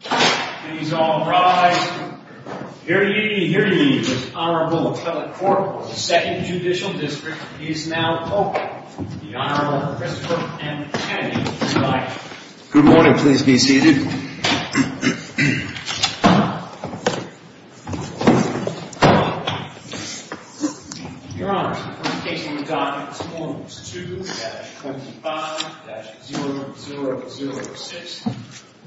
Please all rise. Hear ye, hear ye. The Honorable Appellate Court of the Second Judicial District is now open. The Honorable Christopher M. Kennedy is invited. Good morning. Please be seated. Your Honor, the first case on the docket is Case No. 2-25-0006.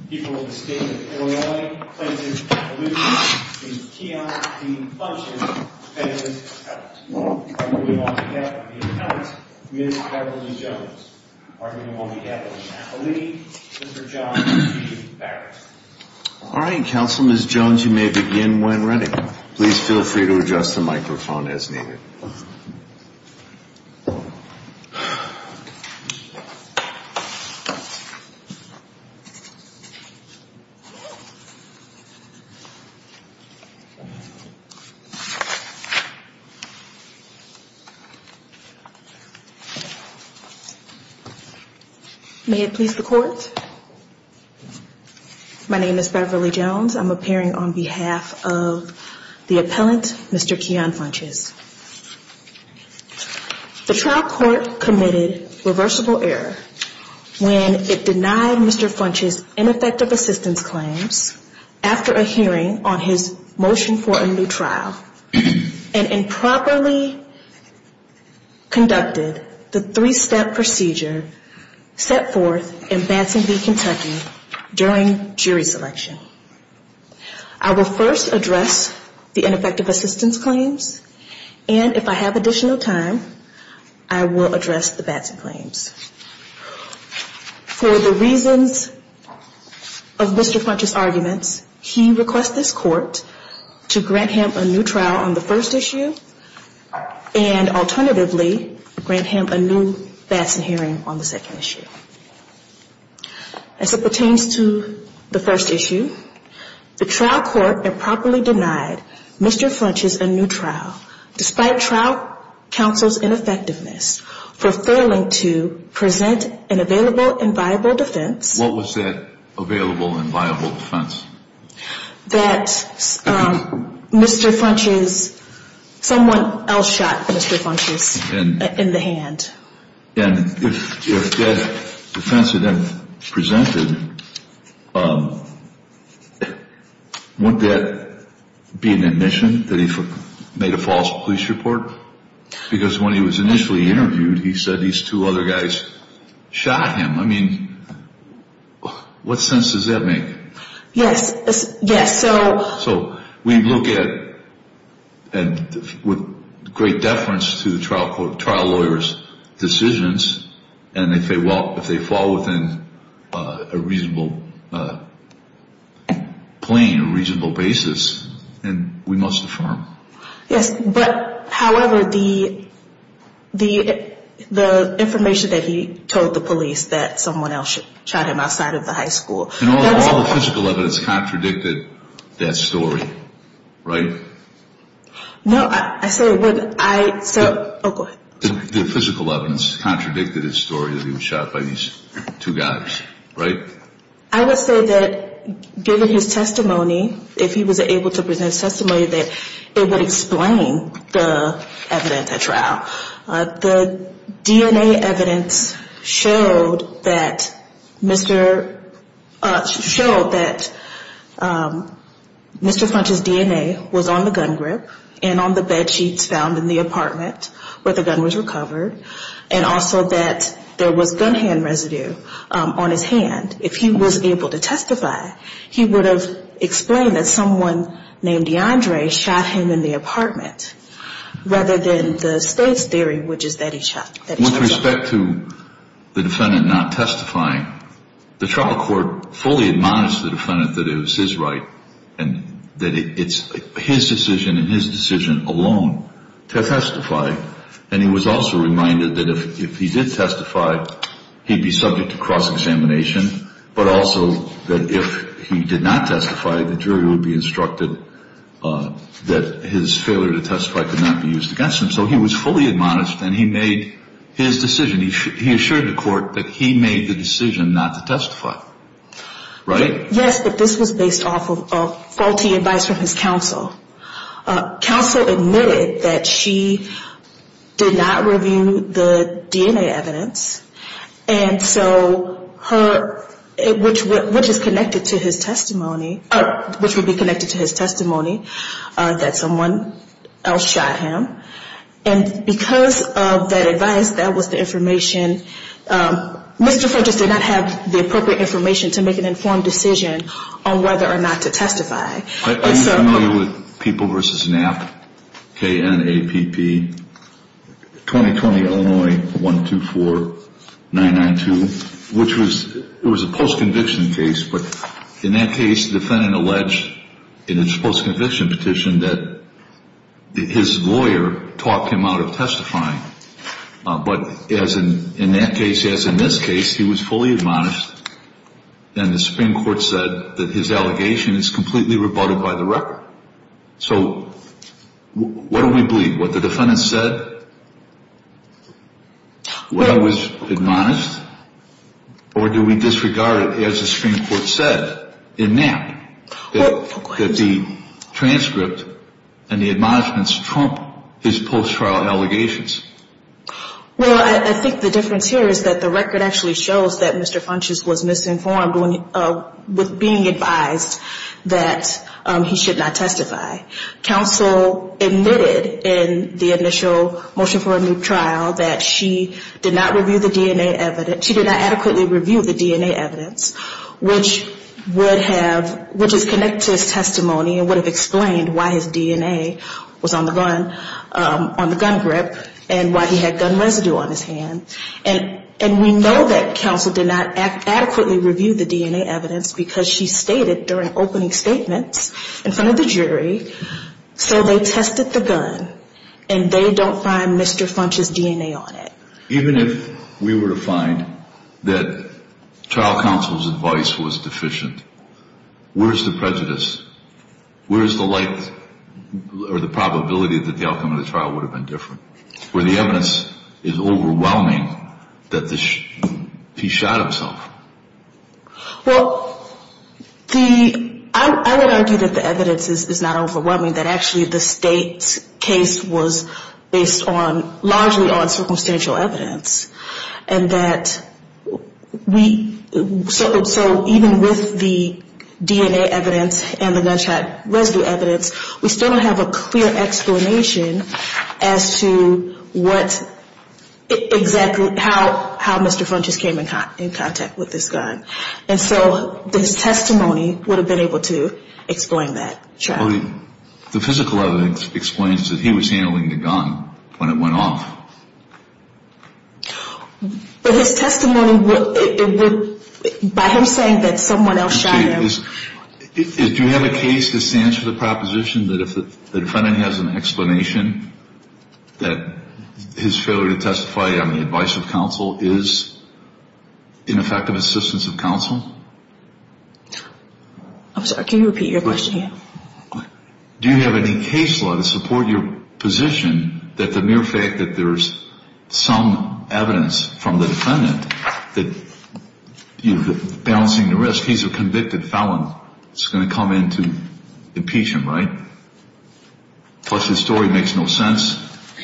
People of the State of Illinois claim to be Appaloochee. Ms. Keon, Dean Funches, Family Appellate. Arguing on behalf of the Appellate, Ms. Beverly Jones. Arguing on behalf of the Appaloochee, Mr. John T. Barrett. All right, Counsel, Ms. Jones, you may begin when ready. Please feel free to adjust the microphone as needed. May it please the Court, my name is Beverly Jones. I'm appearing on behalf of the Appellate, Mr. Keon Funches. The trial court committed reversible error when it denied Mr. Funches ineffective assistance claims after a hearing on his motion for a new trial and improperly conducted the three-step procedure set forth in Bansing v. Kentucky during jury selection. I will first address the ineffective assistance claims and if I have additional time, I will address the Bansing claims. For the reasons of Mr. Funches' arguments, he requests this Court to grant him a new trial on the first issue and alternatively grant him a new Bansing hearing on the second issue. As it pertains to the first issue, the trial court improperly denied Mr. Funches a new trial despite trial counsel's ineffectiveness for failing to present an available and viable defense. What was that available and viable defense? That Mr. Funches, someone else shot Mr. Funches in the hand. And if that defense had been presented, wouldn't that be an admission that he made a false police report? Because when he was initially interviewed, he said these two other guys shot him. I mean, what sense does that make? Yes, yes. So we look at and with great deference to the trial lawyer's decisions and if they fall within a reasonable plane, a reasonable basis, then we must affirm. Yes, but however, the information that he told the police that someone else shot him outside of the high school. And all the physical evidence contradicted that story, right? No, I say what I said. Oh, go ahead. The physical evidence contradicted his story that he was shot by these two guys, right? I would say that given his testimony, if he was able to present testimony, that it would explain the evidence at trial. The DNA evidence showed that Mr. Funches' DNA was on the gun grip and on the bed sheets found in the apartment where the gun was recovered and also that there was gun hand residue on his hand. If he was able to testify, he would have explained that someone named DeAndre shot him in the apartment rather than the state's theory, which is that he was shot. With respect to the defendant not testifying, the trial court fully admonished the defendant that it was his right and that it's his decision and his decision alone to testify. And he was also reminded that if he did testify, he'd be subject to cross-examination, but also that if he did not testify, the jury would be instructed that his failure to testify could not be used against him. So he was fully admonished and he made his decision. He assured the court that he made the decision not to testify, right? Yes, but this was based off of faulty advice from his counsel. Counsel admitted that she did not review the DNA evidence, and so her, which is connected to his testimony, which would be connected to his testimony that someone else shot him. And because of that advice, that was the information. Mr. Fortas did not have the appropriate information to make an informed decision on whether or not to testify. I'm familiar with People v. Knapp, K-N-A-P-P, 2020, Illinois, 124-992, which was a post-conviction case, but in that case, the defendant alleged in his post-conviction petition that his lawyer talked him out of testifying. But in that case, as in this case, he was fully admonished, and the Supreme Court said that his allegation is completely rebutted by the record. So what do we believe? What the defendant said? Was he admonished? Or do we disregard, as the Supreme Court said in Knapp, that the transcript and the admonishments trump his post-trial allegations? Well, I think the difference here is that the record actually shows that Mr. Funchess was misinformed with being advised that he should not testify. Counsel admitted in the initial motion for a new trial that she did not review the DNA evidence, she did not adequately review the DNA evidence, which would have, which is connected to his testimony and would have explained why his DNA was on the gun, on the gun grip, and why he had gun residue on his hand. And we know that counsel did not adequately review the DNA evidence because she stated during opening statements in front of the jury, so they tested the gun, and they don't find Mr. Funchess' DNA on it. Even if we were to find that trial counsel's advice was deficient, where's the prejudice? Where's the light or the probability that the outcome of the trial would have been different, where the evidence is overwhelming that he shot himself? Well, I would argue that the evidence is not overwhelming, that actually the state's case was based largely on circumstantial evidence, and that we, so even with the DNA evidence and the gunshot residue evidence, we still don't have a clear explanation as to what exactly, how Mr. Funchess came in contact with this gun. And so his testimony would have been able to explain that. The physical evidence explains that he was handling the gun when it went off. But his testimony would, by him saying that someone else shot him. Do you have a case that stands for the proposition that if the defendant has an explanation, that his failure to testify on the advice of counsel is ineffective assistance of counsel? I'm sorry, can you repeat your question again? Do you have any case law to support your position that the mere fact that there's some evidence from the defendant that you're balancing the risk, he's a convicted felon, it's going to come in to impeach him, right? Plus his story makes no sense,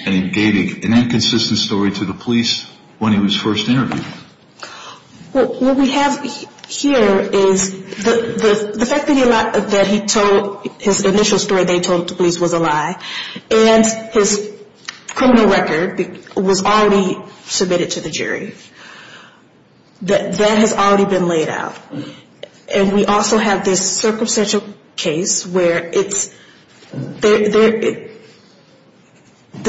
and he gave an inconsistent story to the police when he was first interviewed. What we have here is the fact that he told, his initial story they told the police was a lie, and his criminal record was already submitted to the jury. That has already been laid out. And we also have this circumstantial case where it's, the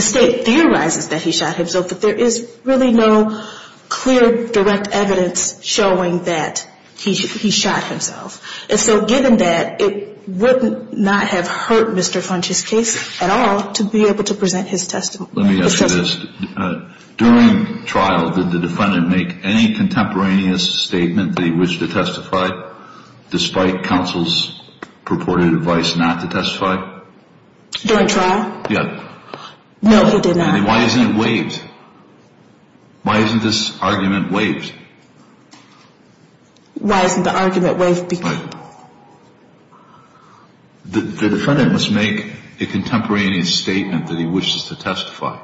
state theorizes that he shot himself, but there is really no clear direct evidence showing that he shot himself. And so given that, it would not have hurt Mr. Funch's case at all to be able to present his testimony. Let me ask you this. During trial, did the defendant make any contemporaneous statement that he wished to testify, despite counsel's purported advice not to testify? During trial? Yeah. No, he did not. Then why isn't it waived? Why isn't this argument waived? Why isn't the argument waived? The defendant must make a contemporaneous statement that he wishes to testify.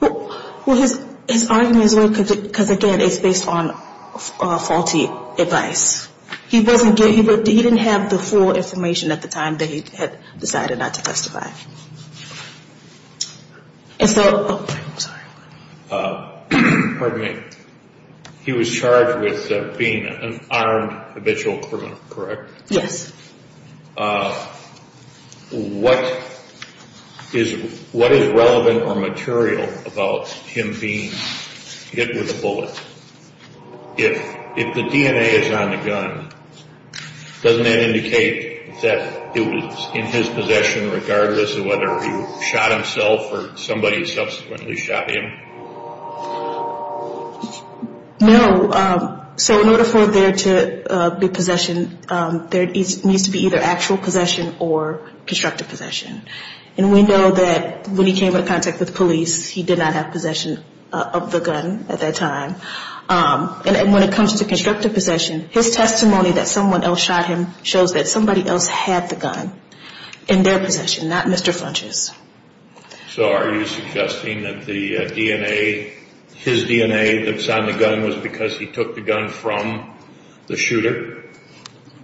Well, his argument is waived because again, it's based on faulty advice. He didn't have the full information at the time that he had decided not to testify. And so, oh, I'm sorry. Pardon me. He was charged with being an armed habitual criminal, correct? Yes. What is relevant or material about him being hit with a bullet? If the DNA is on the gun, doesn't that indicate that it was in his possession, regardless of whether he shot himself or somebody subsequently shot him? No. So in order for there to be possession, there needs to be either actual possession or constructive possession. And we know that when he came into contact with police, he did not have possession of the gun at that time. And when it comes to constructive possession, his testimony that someone else shot him shows that somebody else had the gun in their possession. Not Mr. Funches. So are you suggesting that the DNA, his DNA that's on the gun was because he took the gun from the shooter?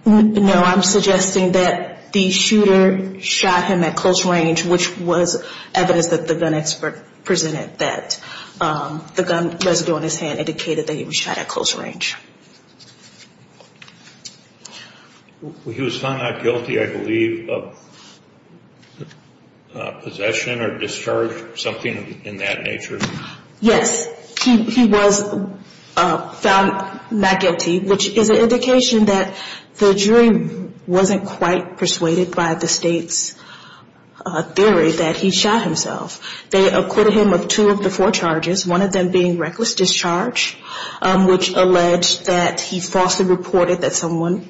No, I'm suggesting that the shooter shot him at close range, which was evidence that the gun expert presented that the gun residue on his hand indicated that he was shot at close range. He was found not guilty, I believe, of possession or discharge, something in that nature? Yes. He was found not guilty, which is an indication that the jury wasn't quite persuaded by the State's theory that he shot himself. They acquitted him of two of the four charges, one of them being reckless discharge, which alleged that he shot himself. And the other one was reckless discharge, which alleged that he falsely reported that someone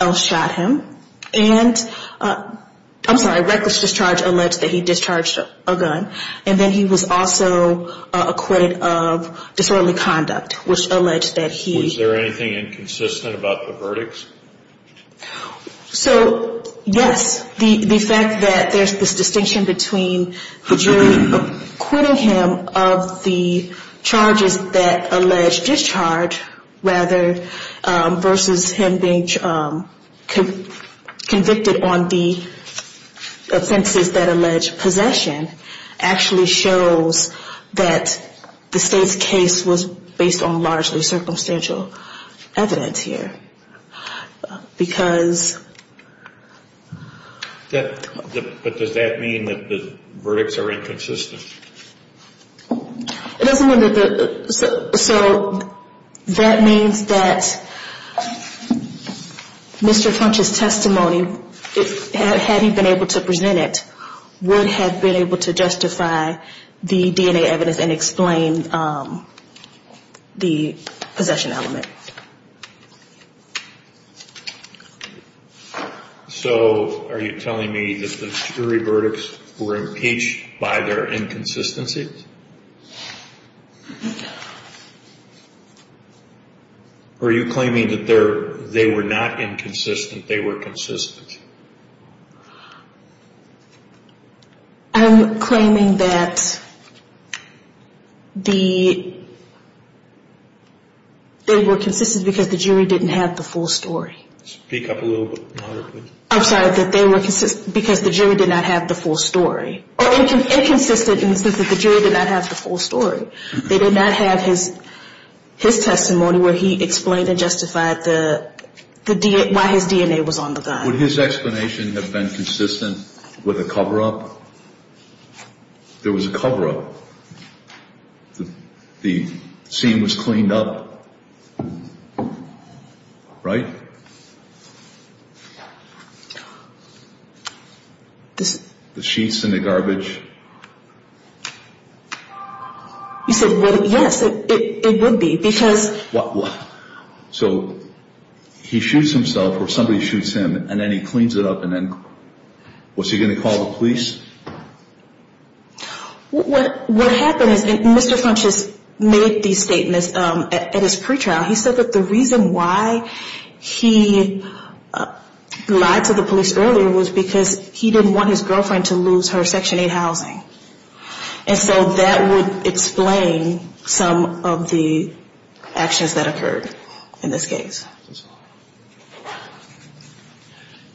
else shot him. And I'm sorry, reckless discharge alleged that he discharged a gun. And then he was also acquitted of disorderly conduct, which alleged that he... Was there anything inconsistent about the verdicts? So, yes, the fact that there's this distinction between the jury acquitting him of the charges that allege discharge rather versus him being convicted on the offenses that allege possession actually shows that the State's case was based on largely circumstantial evidence here. Because... But does that mean that the verdicts are inconsistent? It doesn't mean that the... So that means that Mr. Funch's testimony, had he been able to present it, would have been able to justify the DNA evidence and explain the possession element. So are you telling me that the jury verdicts were impeached by their inconsistencies? Or are you claiming that they were not inconsistent, they were consistent? I'm claiming that the... They were consistent because the jury didn't have the full story. Speak up a little bit louder, please. I'm sorry, that they were consistent because the jury did not have the full story. Or inconsistent in the sense that the jury did not have the full story. They did not have his testimony where he explained and justified why his DNA was on the gun. Would his explanation have been consistent with a cover-up? There was a cover-up. The scene was cleaned up. Right? The sheets in the garbage. You said, yes, it would be because... So he shoots himself or somebody shoots him and then he cleans it up and then... Was he going to call the police? What happened is Mr. Funches made these statements at his pretrial. He said that the reason why he lied to the police earlier was because he didn't want his girlfriend to lose her Section 8 house. And so that would explain some of the actions that occurred in this case.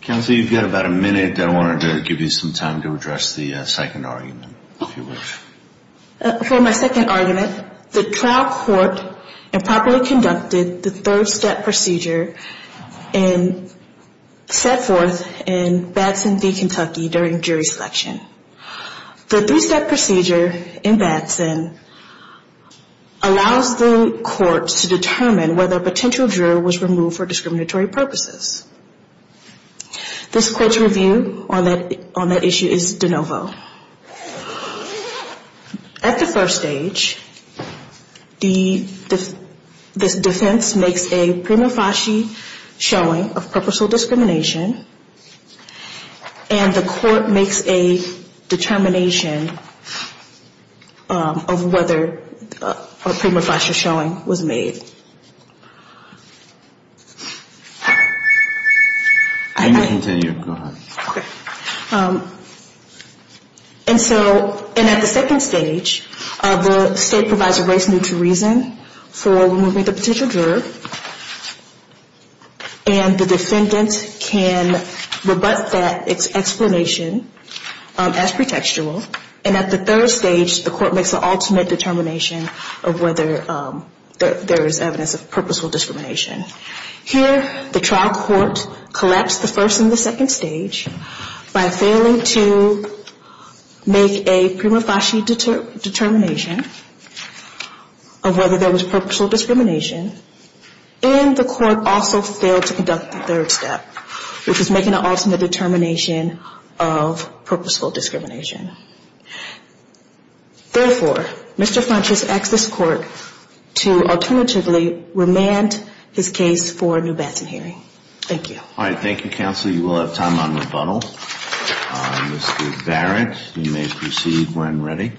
Counsel, you've got about a minute. I wanted to give you some time to address the second argument, if you wish. For my second argument, the trial court improperly conducted the third step procedure and set forth in Batson v. Kentucky during jury selection. The three-step procedure in Batson allows the court to determine whether a potential juror was removed for discriminatory purposes. This court's review on that issue is de novo. At the first stage, the defense makes a prima facie showing of purposeful discrimination and the court makes a determination of whether a prima facie showing was made. I can continue. Go ahead. And so, and at the second stage, the state provides a race-neutral reason for removing the potential juror and the defendant can rebut that explanation as pretextual. And at the third stage, the court makes an ultimate determination of whether there is evidence of purposeful discrimination. Here, the trial court collapsed the first and the second stage by failing to make a prima facie determination of whether there was purposeful discrimination. And the court also failed to conduct the third step, which is making an ultimate determination of purposeful discrimination. Therefore, Mr. French has asked this court to alternatively remand his case for a new Batson hearing. Thank you. All right. Thank you, counsel. You will have time on rebuttal. Mr. Barrett, you may proceed when ready.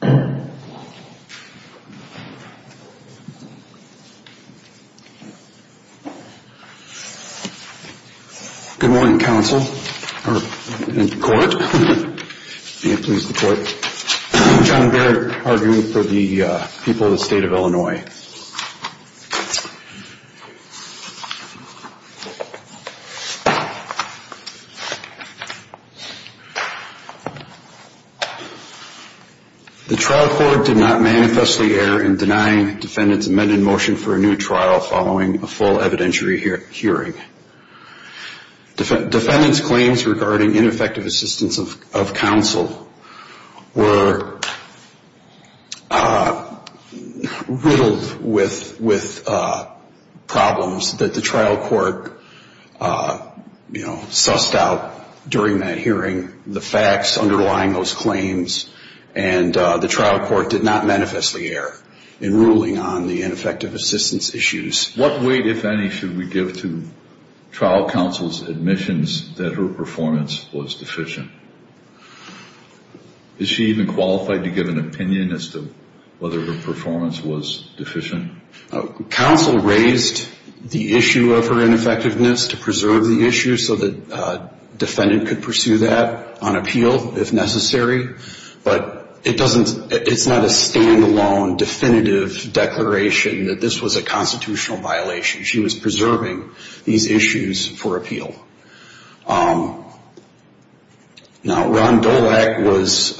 Good morning, counsel. And the court. John Barrett, arguing for the people of the state of Illinois. The trial court did not manifestly err in denying defendants amended motion for a new trial following a full evidentiary hearing. Defendants claims regarding ineffective assistance of counsel were riddled with problems that the trial court, you know, sussed out during that hearing, the facts underlying those claims, and the trial court did not manifestly err in ruling on the ineffective assistance issues. What weight, if any, should we give to trial counsel's admissions that her performance was deficient? Is she even qualified to give an opinion as to whether her performance was deficient? Counsel raised the issue of her ineffectiveness to preserve the issue so that defendant could pursue that on appeal if necessary. But it's not a stand-alone definitive declaration that this was a constitutional violation. She was preserving these issues for appeal. Now, Ron Dolak was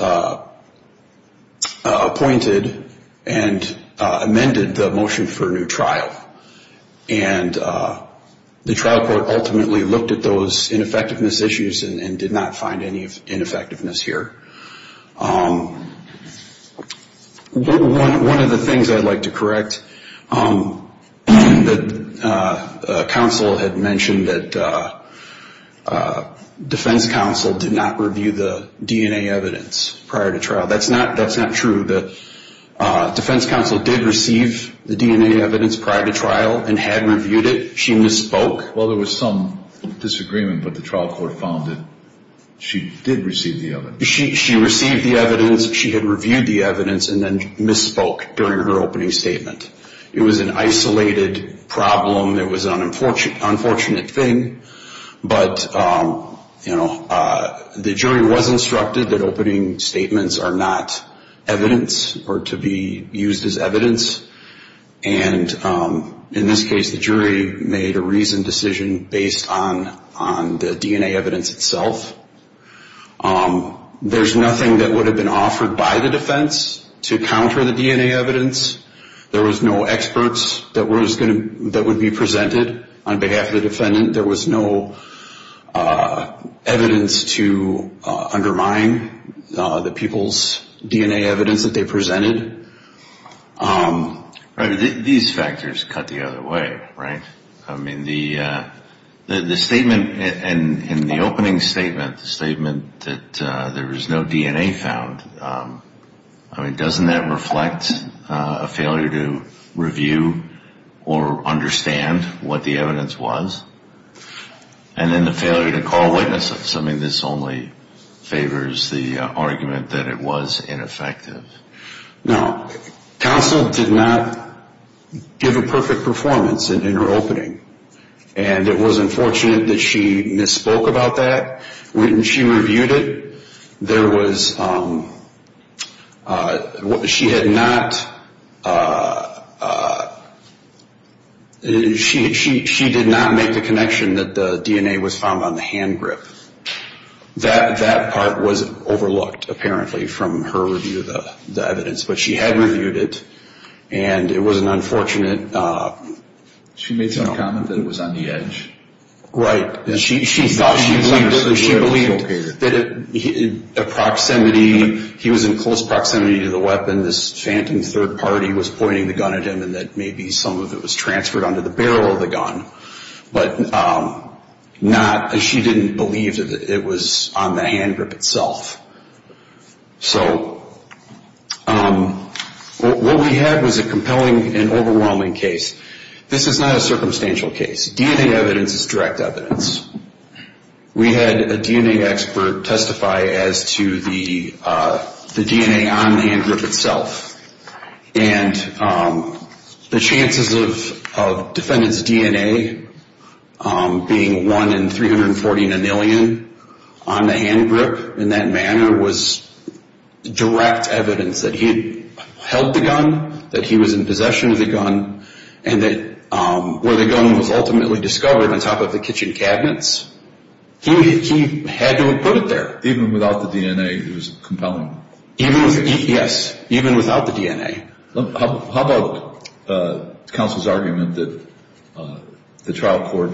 appointed and amended the motion for a new trial. And the trial court ultimately looked at those ineffectiveness issues and did not find any ineffectiveness here. One of the things I'd like to correct, counsel had mentioned that defense counsel did not review the DNA evidence prior to trial. That's not true. Defense counsel did receive the DNA evidence prior to trial and had reviewed it. Well, there was some disagreement, but the trial court found that she did receive the evidence. She received the evidence, she had reviewed the evidence, and then misspoke during her opening statement. It was an isolated problem. It was an unfortunate thing, but, you know, the jury was instructed that opening statements are not evidence or to be used as evidence. And in this case, the jury made a reasoned decision based on the DNA evidence itself. There's nothing that would have been offered by the defense to counter the DNA evidence. There was no experts that would be presented on behalf of the defendant. There was no evidence to undermine the people's DNA evidence that they presented. These factors cut the other way, right? I mean, the statement in the opening statement, the statement that there was no DNA found, I mean, doesn't that reflect a failure to review or understand what the evidence was? And then the failure to call witnesses. I mean, this only favors the argument that it was ineffective. No. Counsel did not give a perfect performance in her opening, and it was unfortunate that she misspoke about that. When she reviewed it, there was, she had not, she did not make the connection that the DNA was found on the hand grip. That part was overlooked, apparently, from her review of the evidence. But she had reviewed it, and it was an unfortunate... She made some comment that it was on the edge. Right. She thought she believed it. So she believed that a proximity, he was in close proximity to the weapon, this phantom third party was pointing the gun at him, and that maybe some of it was transferred onto the barrel of the gun. But not, she didn't believe that it was on the hand grip itself. So what we had was a compelling and overwhelming case. This is not a circumstantial case. DNA evidence is direct evidence. We had a DNA expert testify as to the DNA on the hand grip itself. And the chances of defendant's DNA being one in 340 nanillion on the hand grip in that manner was direct evidence that he had held the gun, that he was in possession of the gun, and that where the gun was ultimately discovered on top of the kitchen cabinets, he had to have put it there. Even without the DNA, it was compelling? Yes, even without the DNA. How about counsel's argument that the trial court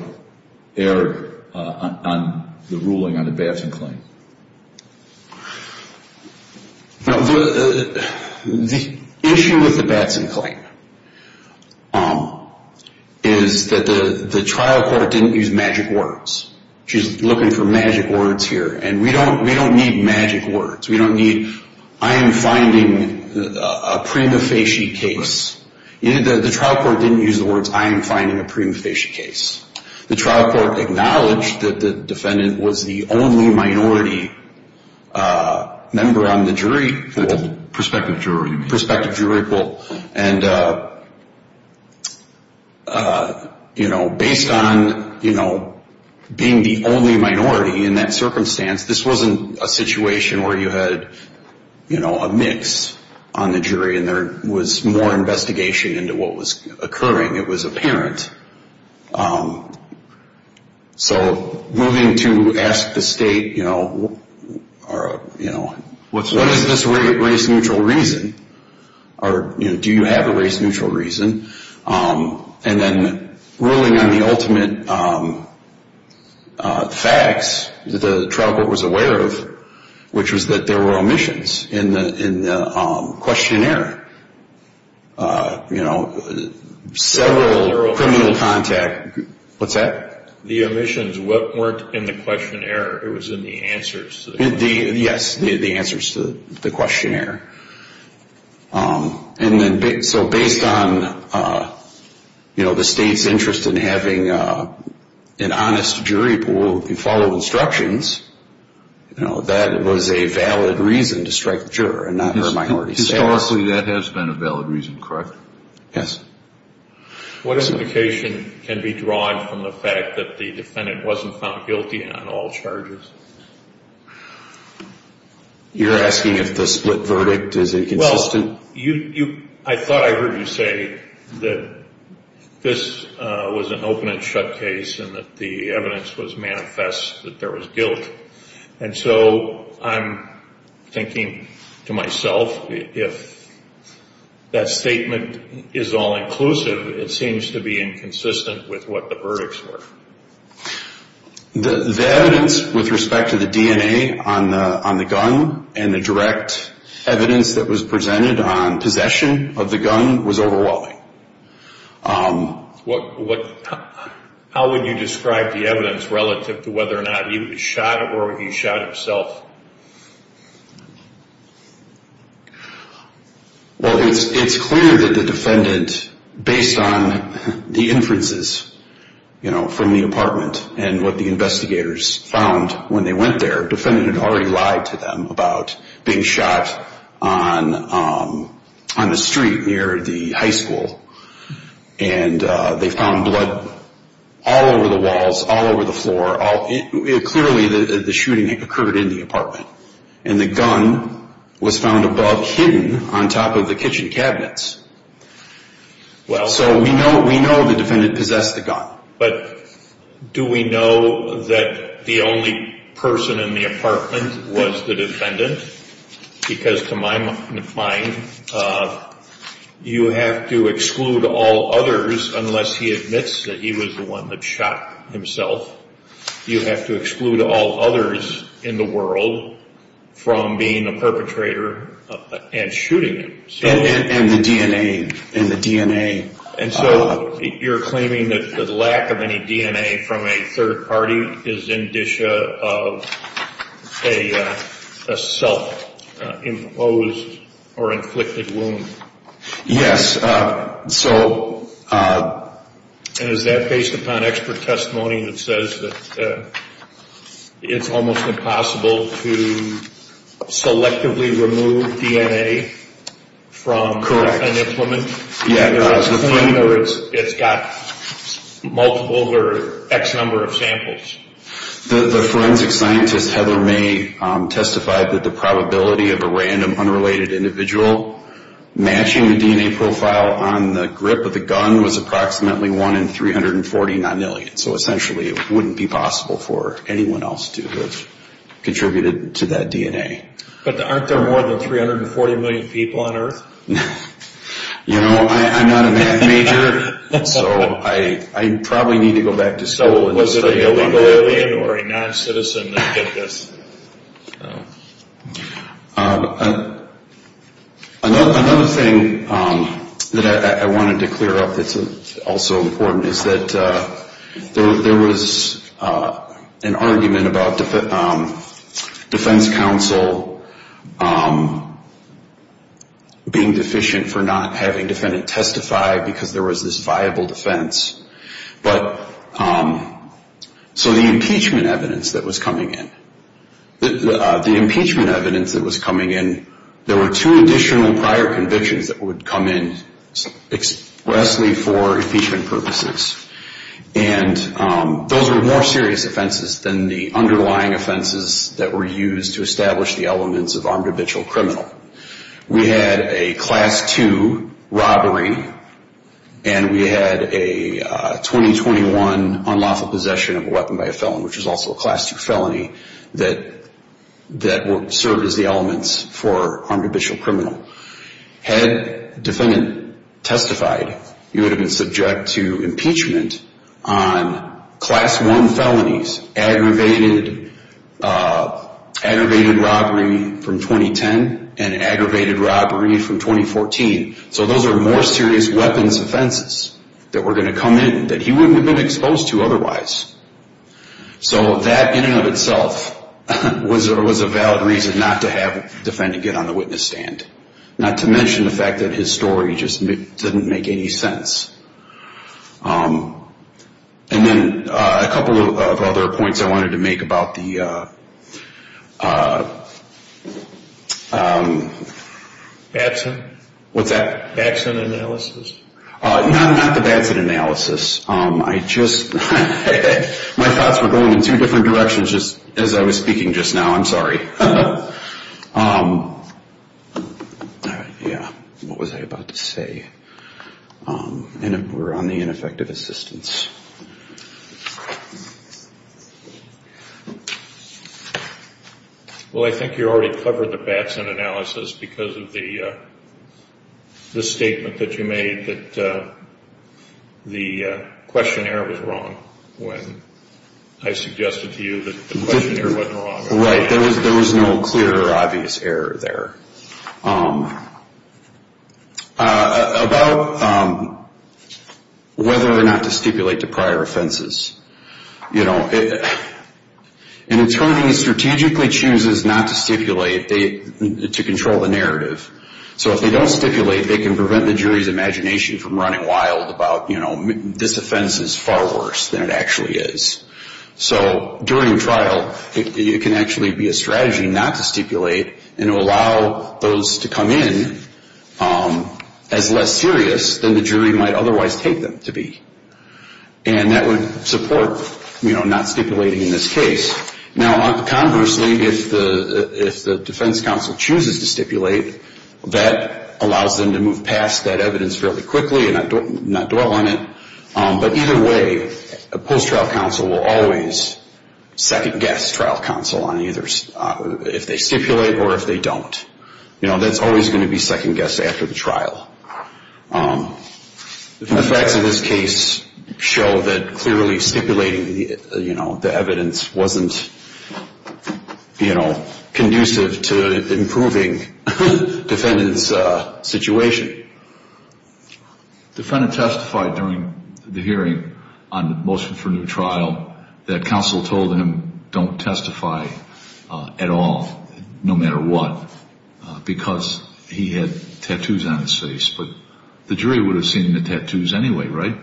erred on the ruling on a bashing claim? The issue with the bashing claim is that the trial court didn't use magic words. She's looking for magic words here, and we don't need magic words. We don't need, I am finding a prima facie case. The trial court didn't use the words, I am finding a prima facie case. The trial court acknowledged that the defendant was the only minority member on the jury pool. Prospective jury pool. Based on being the only minority in that circumstance, this wasn't a situation where you had a mix on the jury, and there was more investigation into what was occurring. It was apparent. Moving to ask the state, what is this race-neutral reason? Do you have a race-neutral reason? And then ruling on the ultimate facts that the trial court was aware of, which was that there were omissions in the questionnaire. Several criminal contact, what's that? The omissions weren't in the questionnaire, it was in the answers. Yes, the answers to the questionnaire. So based on the state's interest in having an honest jury pool that followed instructions, that was a valid reason to strike the juror and not her minority. Historically, that has been a valid reason, correct? Yes. What indication can be drawn from the fact that the defendant wasn't found guilty on all charges? You're asking if the split verdict is inconsistent? I thought I heard you say that this was an open and shut case and that the evidence was manifest that there was guilt. And so I'm thinking to myself, if that statement is all-inclusive, it seems to be inconsistent with what the verdicts were. The evidence with respect to the DNA on the gun and the direct evidence that was presented on possession of the gun was overwhelming. How would you describe the evidence relative to whether or not he shot or he shot himself? Well, it's clear that the defendant, based on the inferences from the apartment and what the investigators found when they went there, the defendant had already lied to them about being shot on the street near the high school. And they found blood all over the walls, all over the floor. Clearly the shooting occurred in the apartment. And the gun was found above, hidden on top of the kitchen cabinets. So we know the defendant possessed the gun. But do we know that the only person in the apartment was the defendant? Because to my mind, you have to exclude all others unless he admits that he was the one that shot himself. You have to exclude all others in the world from being a perpetrator and shooting them. And the DNA. And so you're claiming that the lack of any DNA from a third party is indicia of a self-imposed or inflicted wound? Yes. And is that based upon expert testimony that says that it's almost impossible to selectively remove DNA from an implement? It's got multiple or X number of samples. The forensic scientist, Heather May, testified that the probability of a random unrelated individual matching the DNA profile on the grip of the gun was approximately 1 in 340 non-million. So essentially it wouldn't be possible for anyone else to have contributed to that DNA. But aren't there more than 340 million people on earth? You know, I'm not a math major, so I probably need to go back to school. So was it a civilian or a non-citizen that did this? Another thing that I wanted to clear up that's also important is that there was an argument about defense counsel being deficient for not having defendants testify because there was this viable defense. So the impeachment evidence that was coming in, there were two additional prior convictions that would come in expressly for impeachment purposes. And those were more serious offenses than the underlying offenses that were used to establish the elements of armed habitual criminal. We had a Class 2 robbery and we had a 2021 unlawful possession of a weapon by a felon, which is also a Class 2 felony, that served as the elements for armed habitual criminal. Had a defendant testified, you would have been subject to impeachment on Class 1 felonies, aggravated robbery from 2010 and aggravated robbery from 2014. So those are more serious weapons offenses that were going to come in that he wouldn't have been exposed to otherwise. So that in and of itself was a valid reason not to have a defendant get on the witness stand. Not to mention the fact that his story just didn't make any sense. And then a couple of other points I wanted to make about the... Batson? What's that? Batson analysis? Not the Batson analysis. My thoughts were going in two different directions as I was speaking just now. I'm sorry. What was I about to say? We're on the ineffective assistance. Well, I think you already covered the Batson analysis because of the statement that you made that the questionnaire was wrong when I suggested to you that the questionnaire wasn't wrong. Right. There was no clear or obvious error there. About whether or not to stipulate to prior offenses. An attorney strategically chooses not to stipulate to control the narrative. So if they don't stipulate, they can prevent the jury's imagination from running wild about this offense is far worse than it actually is. So during trial, it can actually be a strategy not to stipulate and allow those to come in as less serious than the jury might otherwise take them to be. And that would support not stipulating in this case. Now, conversely, if the defense counsel chooses to stipulate, that allows them to move past that evidence fairly quickly and not dwell on it. But either way, a post-trial counsel will always second-guess trial counsel on either if they stipulate or if they don't. That's always going to be second-guessed after the trial. The facts of this case show that clearly stipulating the evidence wasn't conducive to improving the defendant's situation. The defendant testified during the hearing on the motion for new trial that counsel told him don't testify at all, no matter what, because he had tattoos on his face. But the jury would have seen the tattoos anyway, right?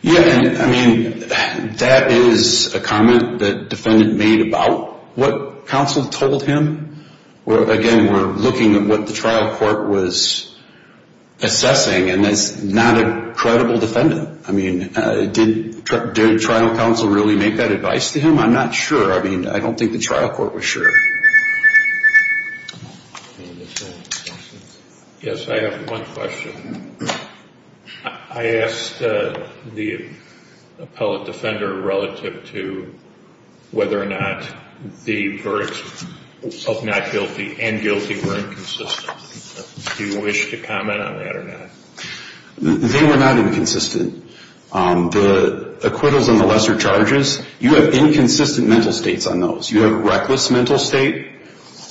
Yeah, and I mean, that is a comment that the defendant made about what counsel told him. Again, we're looking at what the trial court was assessing, and that's not a credible defendant. I mean, did trial counsel really make that advice to him? I'm not sure. I mean, I don't think the trial court was sure. Yes, I have one question. I asked the appellate defender relative to whether or not the verds of not guilty and guilty were inconsistent. Do you wish to comment on that or not? They were not inconsistent. The acquittals on the lesser charges, you have inconsistent mental states on those. You have reckless mental state,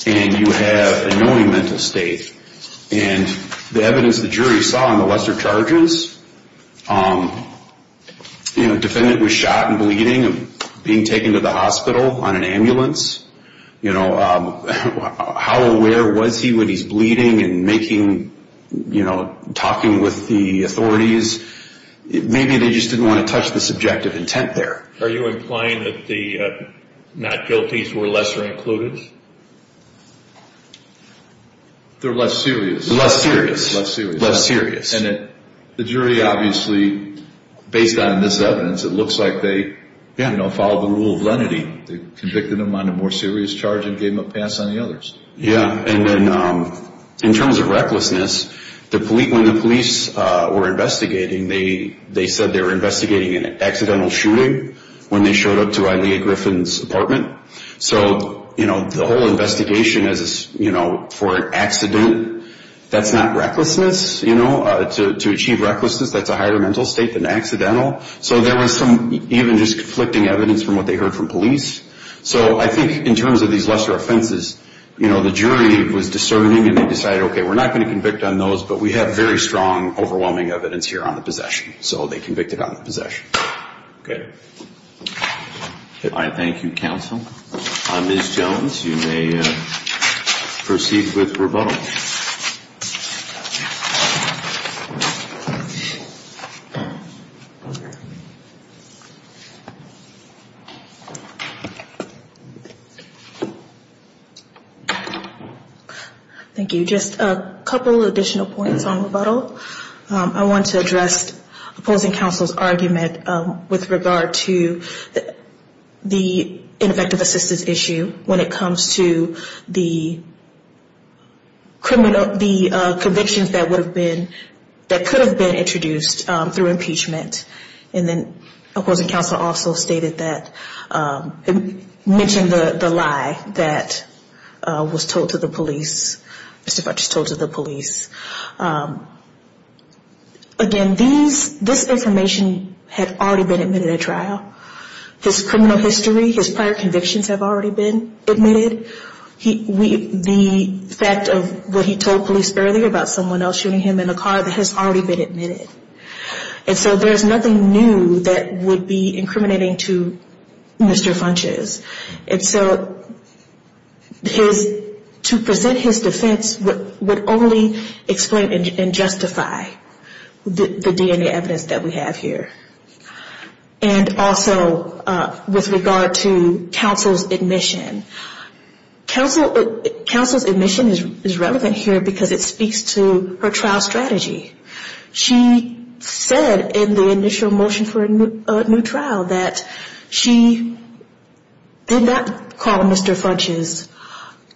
and you have annoying mental state. And the evidence the jury saw on the lesser charges, the defendant was shot and bleeding and being taken to the hospital on an ambulance. How aware was he when he's bleeding and making, you know, talking with the authorities? Maybe they just didn't want to touch the subjective intent there. Are you implying that the not guilties were lesser included? They're less serious. Less serious. Less serious. And the jury obviously, based on this evidence, it looks like they followed the rule of lenity. They convicted him on a more serious charge and gave him a pass on the others. Yeah. And then in terms of recklessness, when the police were investigating, they said they were investigating an accidental shooting when they showed up to Ilia Griffin's apartment. So, you know, the whole investigation, you know, for an accident, that's not recklessness. You know, to achieve recklessness, that's a higher mental state than accidental. So there was some even just conflicting evidence from what they heard from police. So I think in terms of these lesser offenses, you know, the jury was discerning and they decided, okay, we're not going to convict on those, but we have very strong, overwhelming evidence here on the possession. So they convicted on the possession. Thank you, counsel. Ms. Jones, you may proceed with rebuttal. Thank you. Just a couple additional points on rebuttal. I want to address opposing counsel's argument with regard to the ineffective assistance issue when it comes to the convictions that would have been, that could have been introduced through impeachment. And then opposing counsel also stated that, mentioned the lie that was told to the police, Mr. Fuchs told to the police. Again, this information had already been admitted at trial. His criminal history, his prior convictions have already been admitted. The fact of what he told police earlier about someone else shooting him in the car, that has already been admitted. And so there's nothing new that would be incriminating to Mr. Fuchs. And so his, to present his defense would only explain and justify the DNA evidence that we have here. And also with regard to counsel's admission. Counsel's admission is relevant here because it speaks to her trial strategy. She said in the initial motion for a new trial that she did not call Mr. Fuchs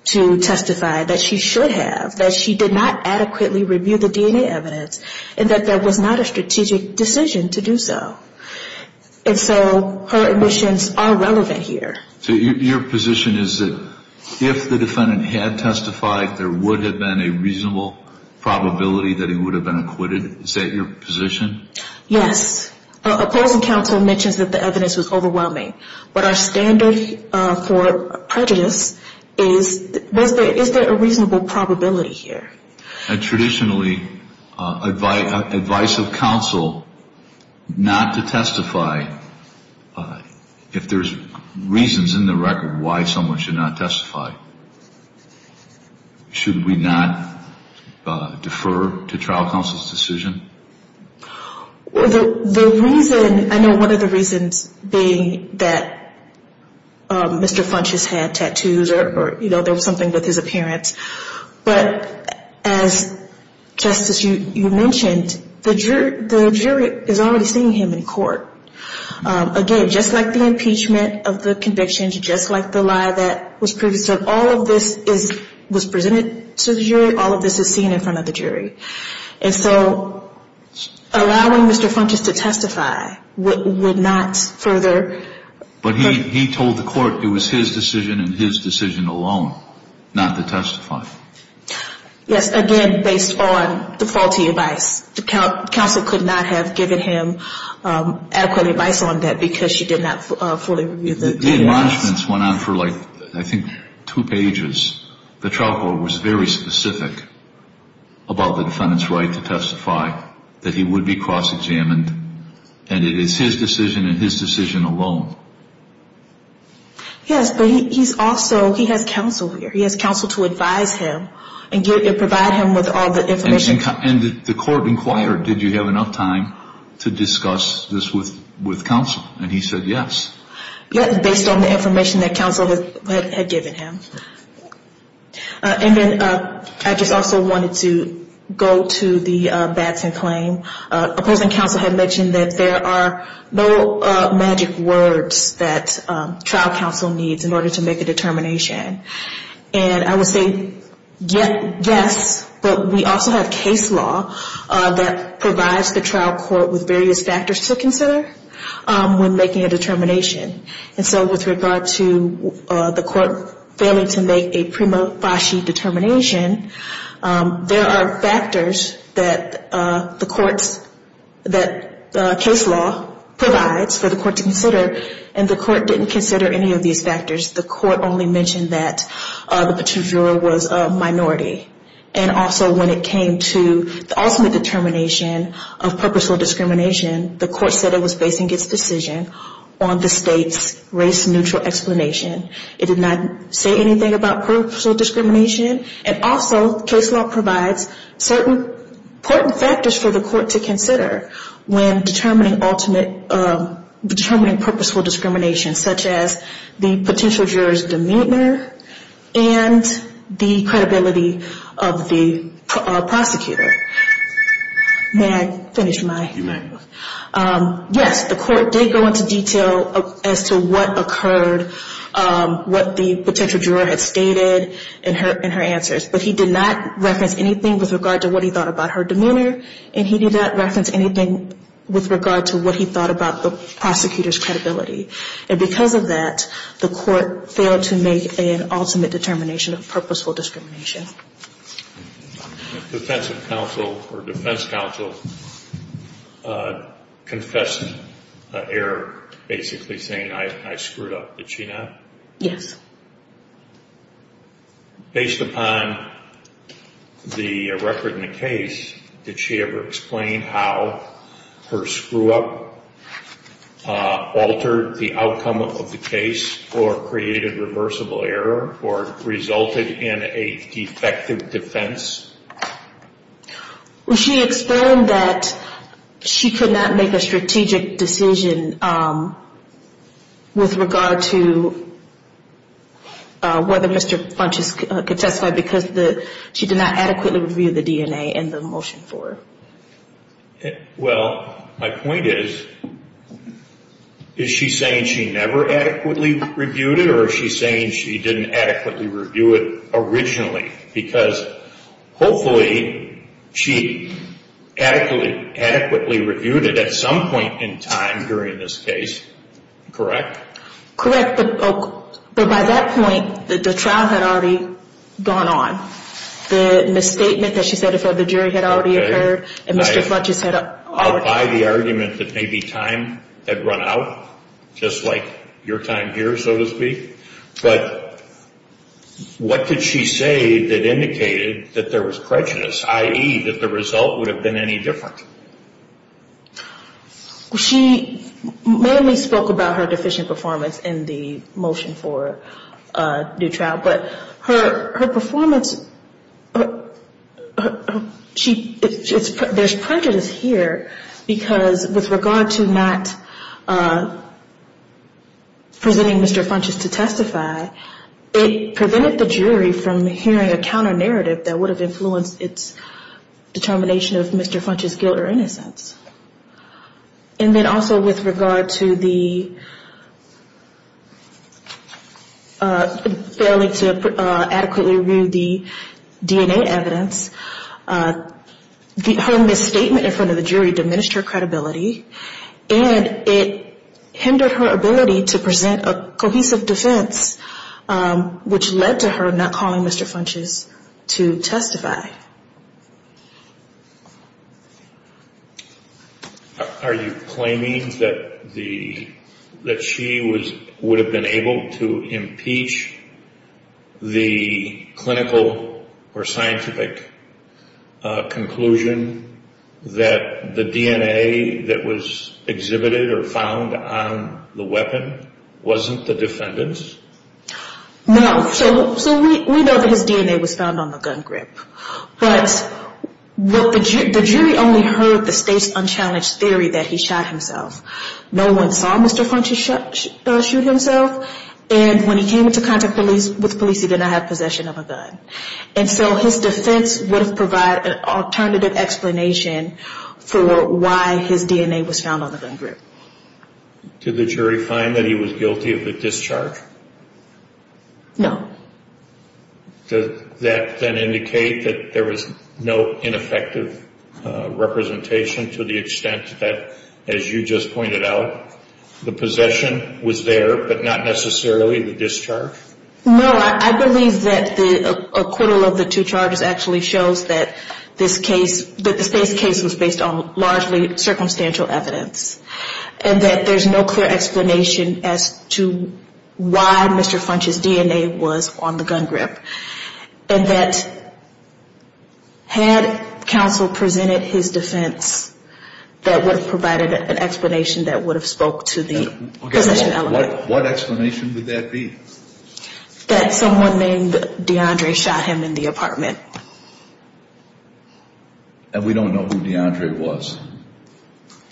to testify, that she should have, that she did not adequately review the DNA evidence, and that that was not a strategic decision to do so. And so her admissions are relevant here. So your position is that if the defendant had testified, there would have been a reasonable probability that he would have been acquitted? Is that your position? Yes. Opposing counsel mentions that the evidence was overwhelming. But our standard for prejudice is, is there a reasonable probability here? Traditionally, advice of counsel not to testify, if there's reasons in the record why someone should not testify, should we not defer to trial counsel's decision? The reason, I know one of the reasons being that Mr. Fuchs has had tattoos, or there was something with his appearance. But as, Justice, you mentioned, the jury is already seeing him in court. Again, just like the impeachment of the convictions, just like the lie that was previously said, all of this was presented to the jury. All of this is seen in front of the jury. And so allowing Mr. Fuchs to testify would not further But he told the court it was his decision and his decision alone not to testify. Yes, again, based on the faulty advice. Counsel could not have given him adequate advice on that because she did not fully review the evidence. The enlargements went on for like, I think, two pages. The trial court was very specific about the defendant's right to testify, that he would be cross-examined, and it is his decision and his decision alone. Yes, but he's also, he has counsel here. He has counsel to advise him and provide him with all the information. And the court inquired, did you have enough time to discuss this with counsel? And he said yes. Yes, based on the information that counsel had given him. And then I just also wanted to go to the Batson claim. Opposing counsel had mentioned that there are no magic words that trial counsel needs in order to make a determination. And I would say yes, but we also have case law that provides the trial court with various factors to consider. When making a determination. And so with regard to the court failing to make a prima facie determination, there are factors that the courts, that the case law provides for the court to consider. And the court didn't consider any of these factors. The court only mentioned that the potential juror was a minority. And also when it came to the ultimate determination of purposeful discrimination, the court said it was basing its decision on the state's race-neutral explanation. It did not say anything about purposeful discrimination. And also case law provides certain important factors for the court to consider when determining ultimate, determining purposeful discrimination, such as the potential juror's demeanor, and the credibility of the prosecutor. May I finish my? Yes, the court did go into detail as to what occurred, what the potential juror had stated in her answers. But he did not reference anything with regard to what he thought about her demeanor, and he did not reference anything with regard to what he thought about the prosecutor's credibility. And because of that, the court failed to make an ultimate determination of purposeful discrimination. Defensive counsel or defense counsel confessed error, basically saying I screwed up. Did she not? Yes. Based upon the record in the case, did she ever explain how her screw-up altered the outcome of the case, or created reversible error, or resulted in a defective defense? She explained that she could not make a strategic decision with regard to whether Mr. Funches could testify because she did not adequately review the DNA in the motion for her. Well, my point is, is she saying she never adequately reviewed it, or is she saying she didn't adequately review it originally? Because hopefully she adequately reviewed it at some point in time during this case, correct? Correct, but by that point, the trial had already gone on. The misstatement that she said before the jury had already occurred, and Mr. Funches had already... I'll buy the argument that maybe time had run out, just like your time here, so to speak. But what did she say that indicated that there was prejudice, i.e., that the result would have been any different? She mainly spoke about her deficient performance in the motion for a new trial, but her performance... There's prejudice here, because with regard to not presenting Mr. Funches to testify, it prevented the jury from hearing a counter-narrative that would have influenced its determination of Mr. Funches' guilt or innocence. And then also with regard to the failing to adequately review the DNA evidence, her misstatement in front of the jury diminished her credibility, and it hindered her ability to present a cohesive defense, which led to her not calling Mr. Funches to testify. Are you claiming that she would have been able to impeach the clinical or scientific conclusion that the DNA that was exhibited or found on the weapon wasn't the defendant's? No. So we know that his DNA was found on the gun grip, but the jury only heard the state's unchallenged theory that he shot himself. No one saw Mr. Funches shoot himself, and when he came into contact with the police, he did not have possession of a gun. And so his defense would have provided an alternative explanation for why his DNA was found on the gun grip. Did the jury find that he was guilty of a discharge? No. Does that then indicate that there was no ineffective representation to the extent that, as you just pointed out, the possession was there, but not necessarily the discharge? No. I believe that the acquittal of the two charges actually shows that this case, that this case was based on largely circumstantial evidence, and that there's no clear explanation as to why Mr. Funches' DNA was on the gun grip, and that had counsel presented his defense, that would have provided an explanation that would have spoke to the possession element. What explanation would that be? That someone named DeAndre shot him in the apartment. And we don't know who DeAndre was.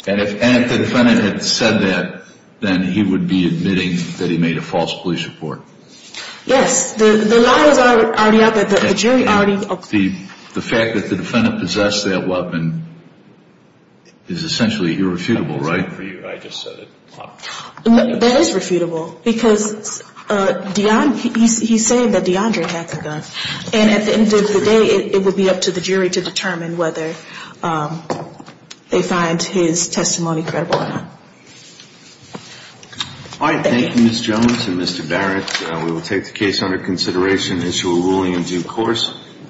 And if the defendant had said that, then he would be admitting that he made a false police report. Yes. The lie was already out there. The jury already... The fact that the defendant possessed that weapon is essentially irrefutable, right? That's not for you. I just said it. That is refutable, because DeAndre, he's saying that DeAndre had the gun. And at the end of the day, it would be up to the jury to determine whether they find his testimony credible or not. All right. Thank you, Ms. Jones and Mr. Barrett.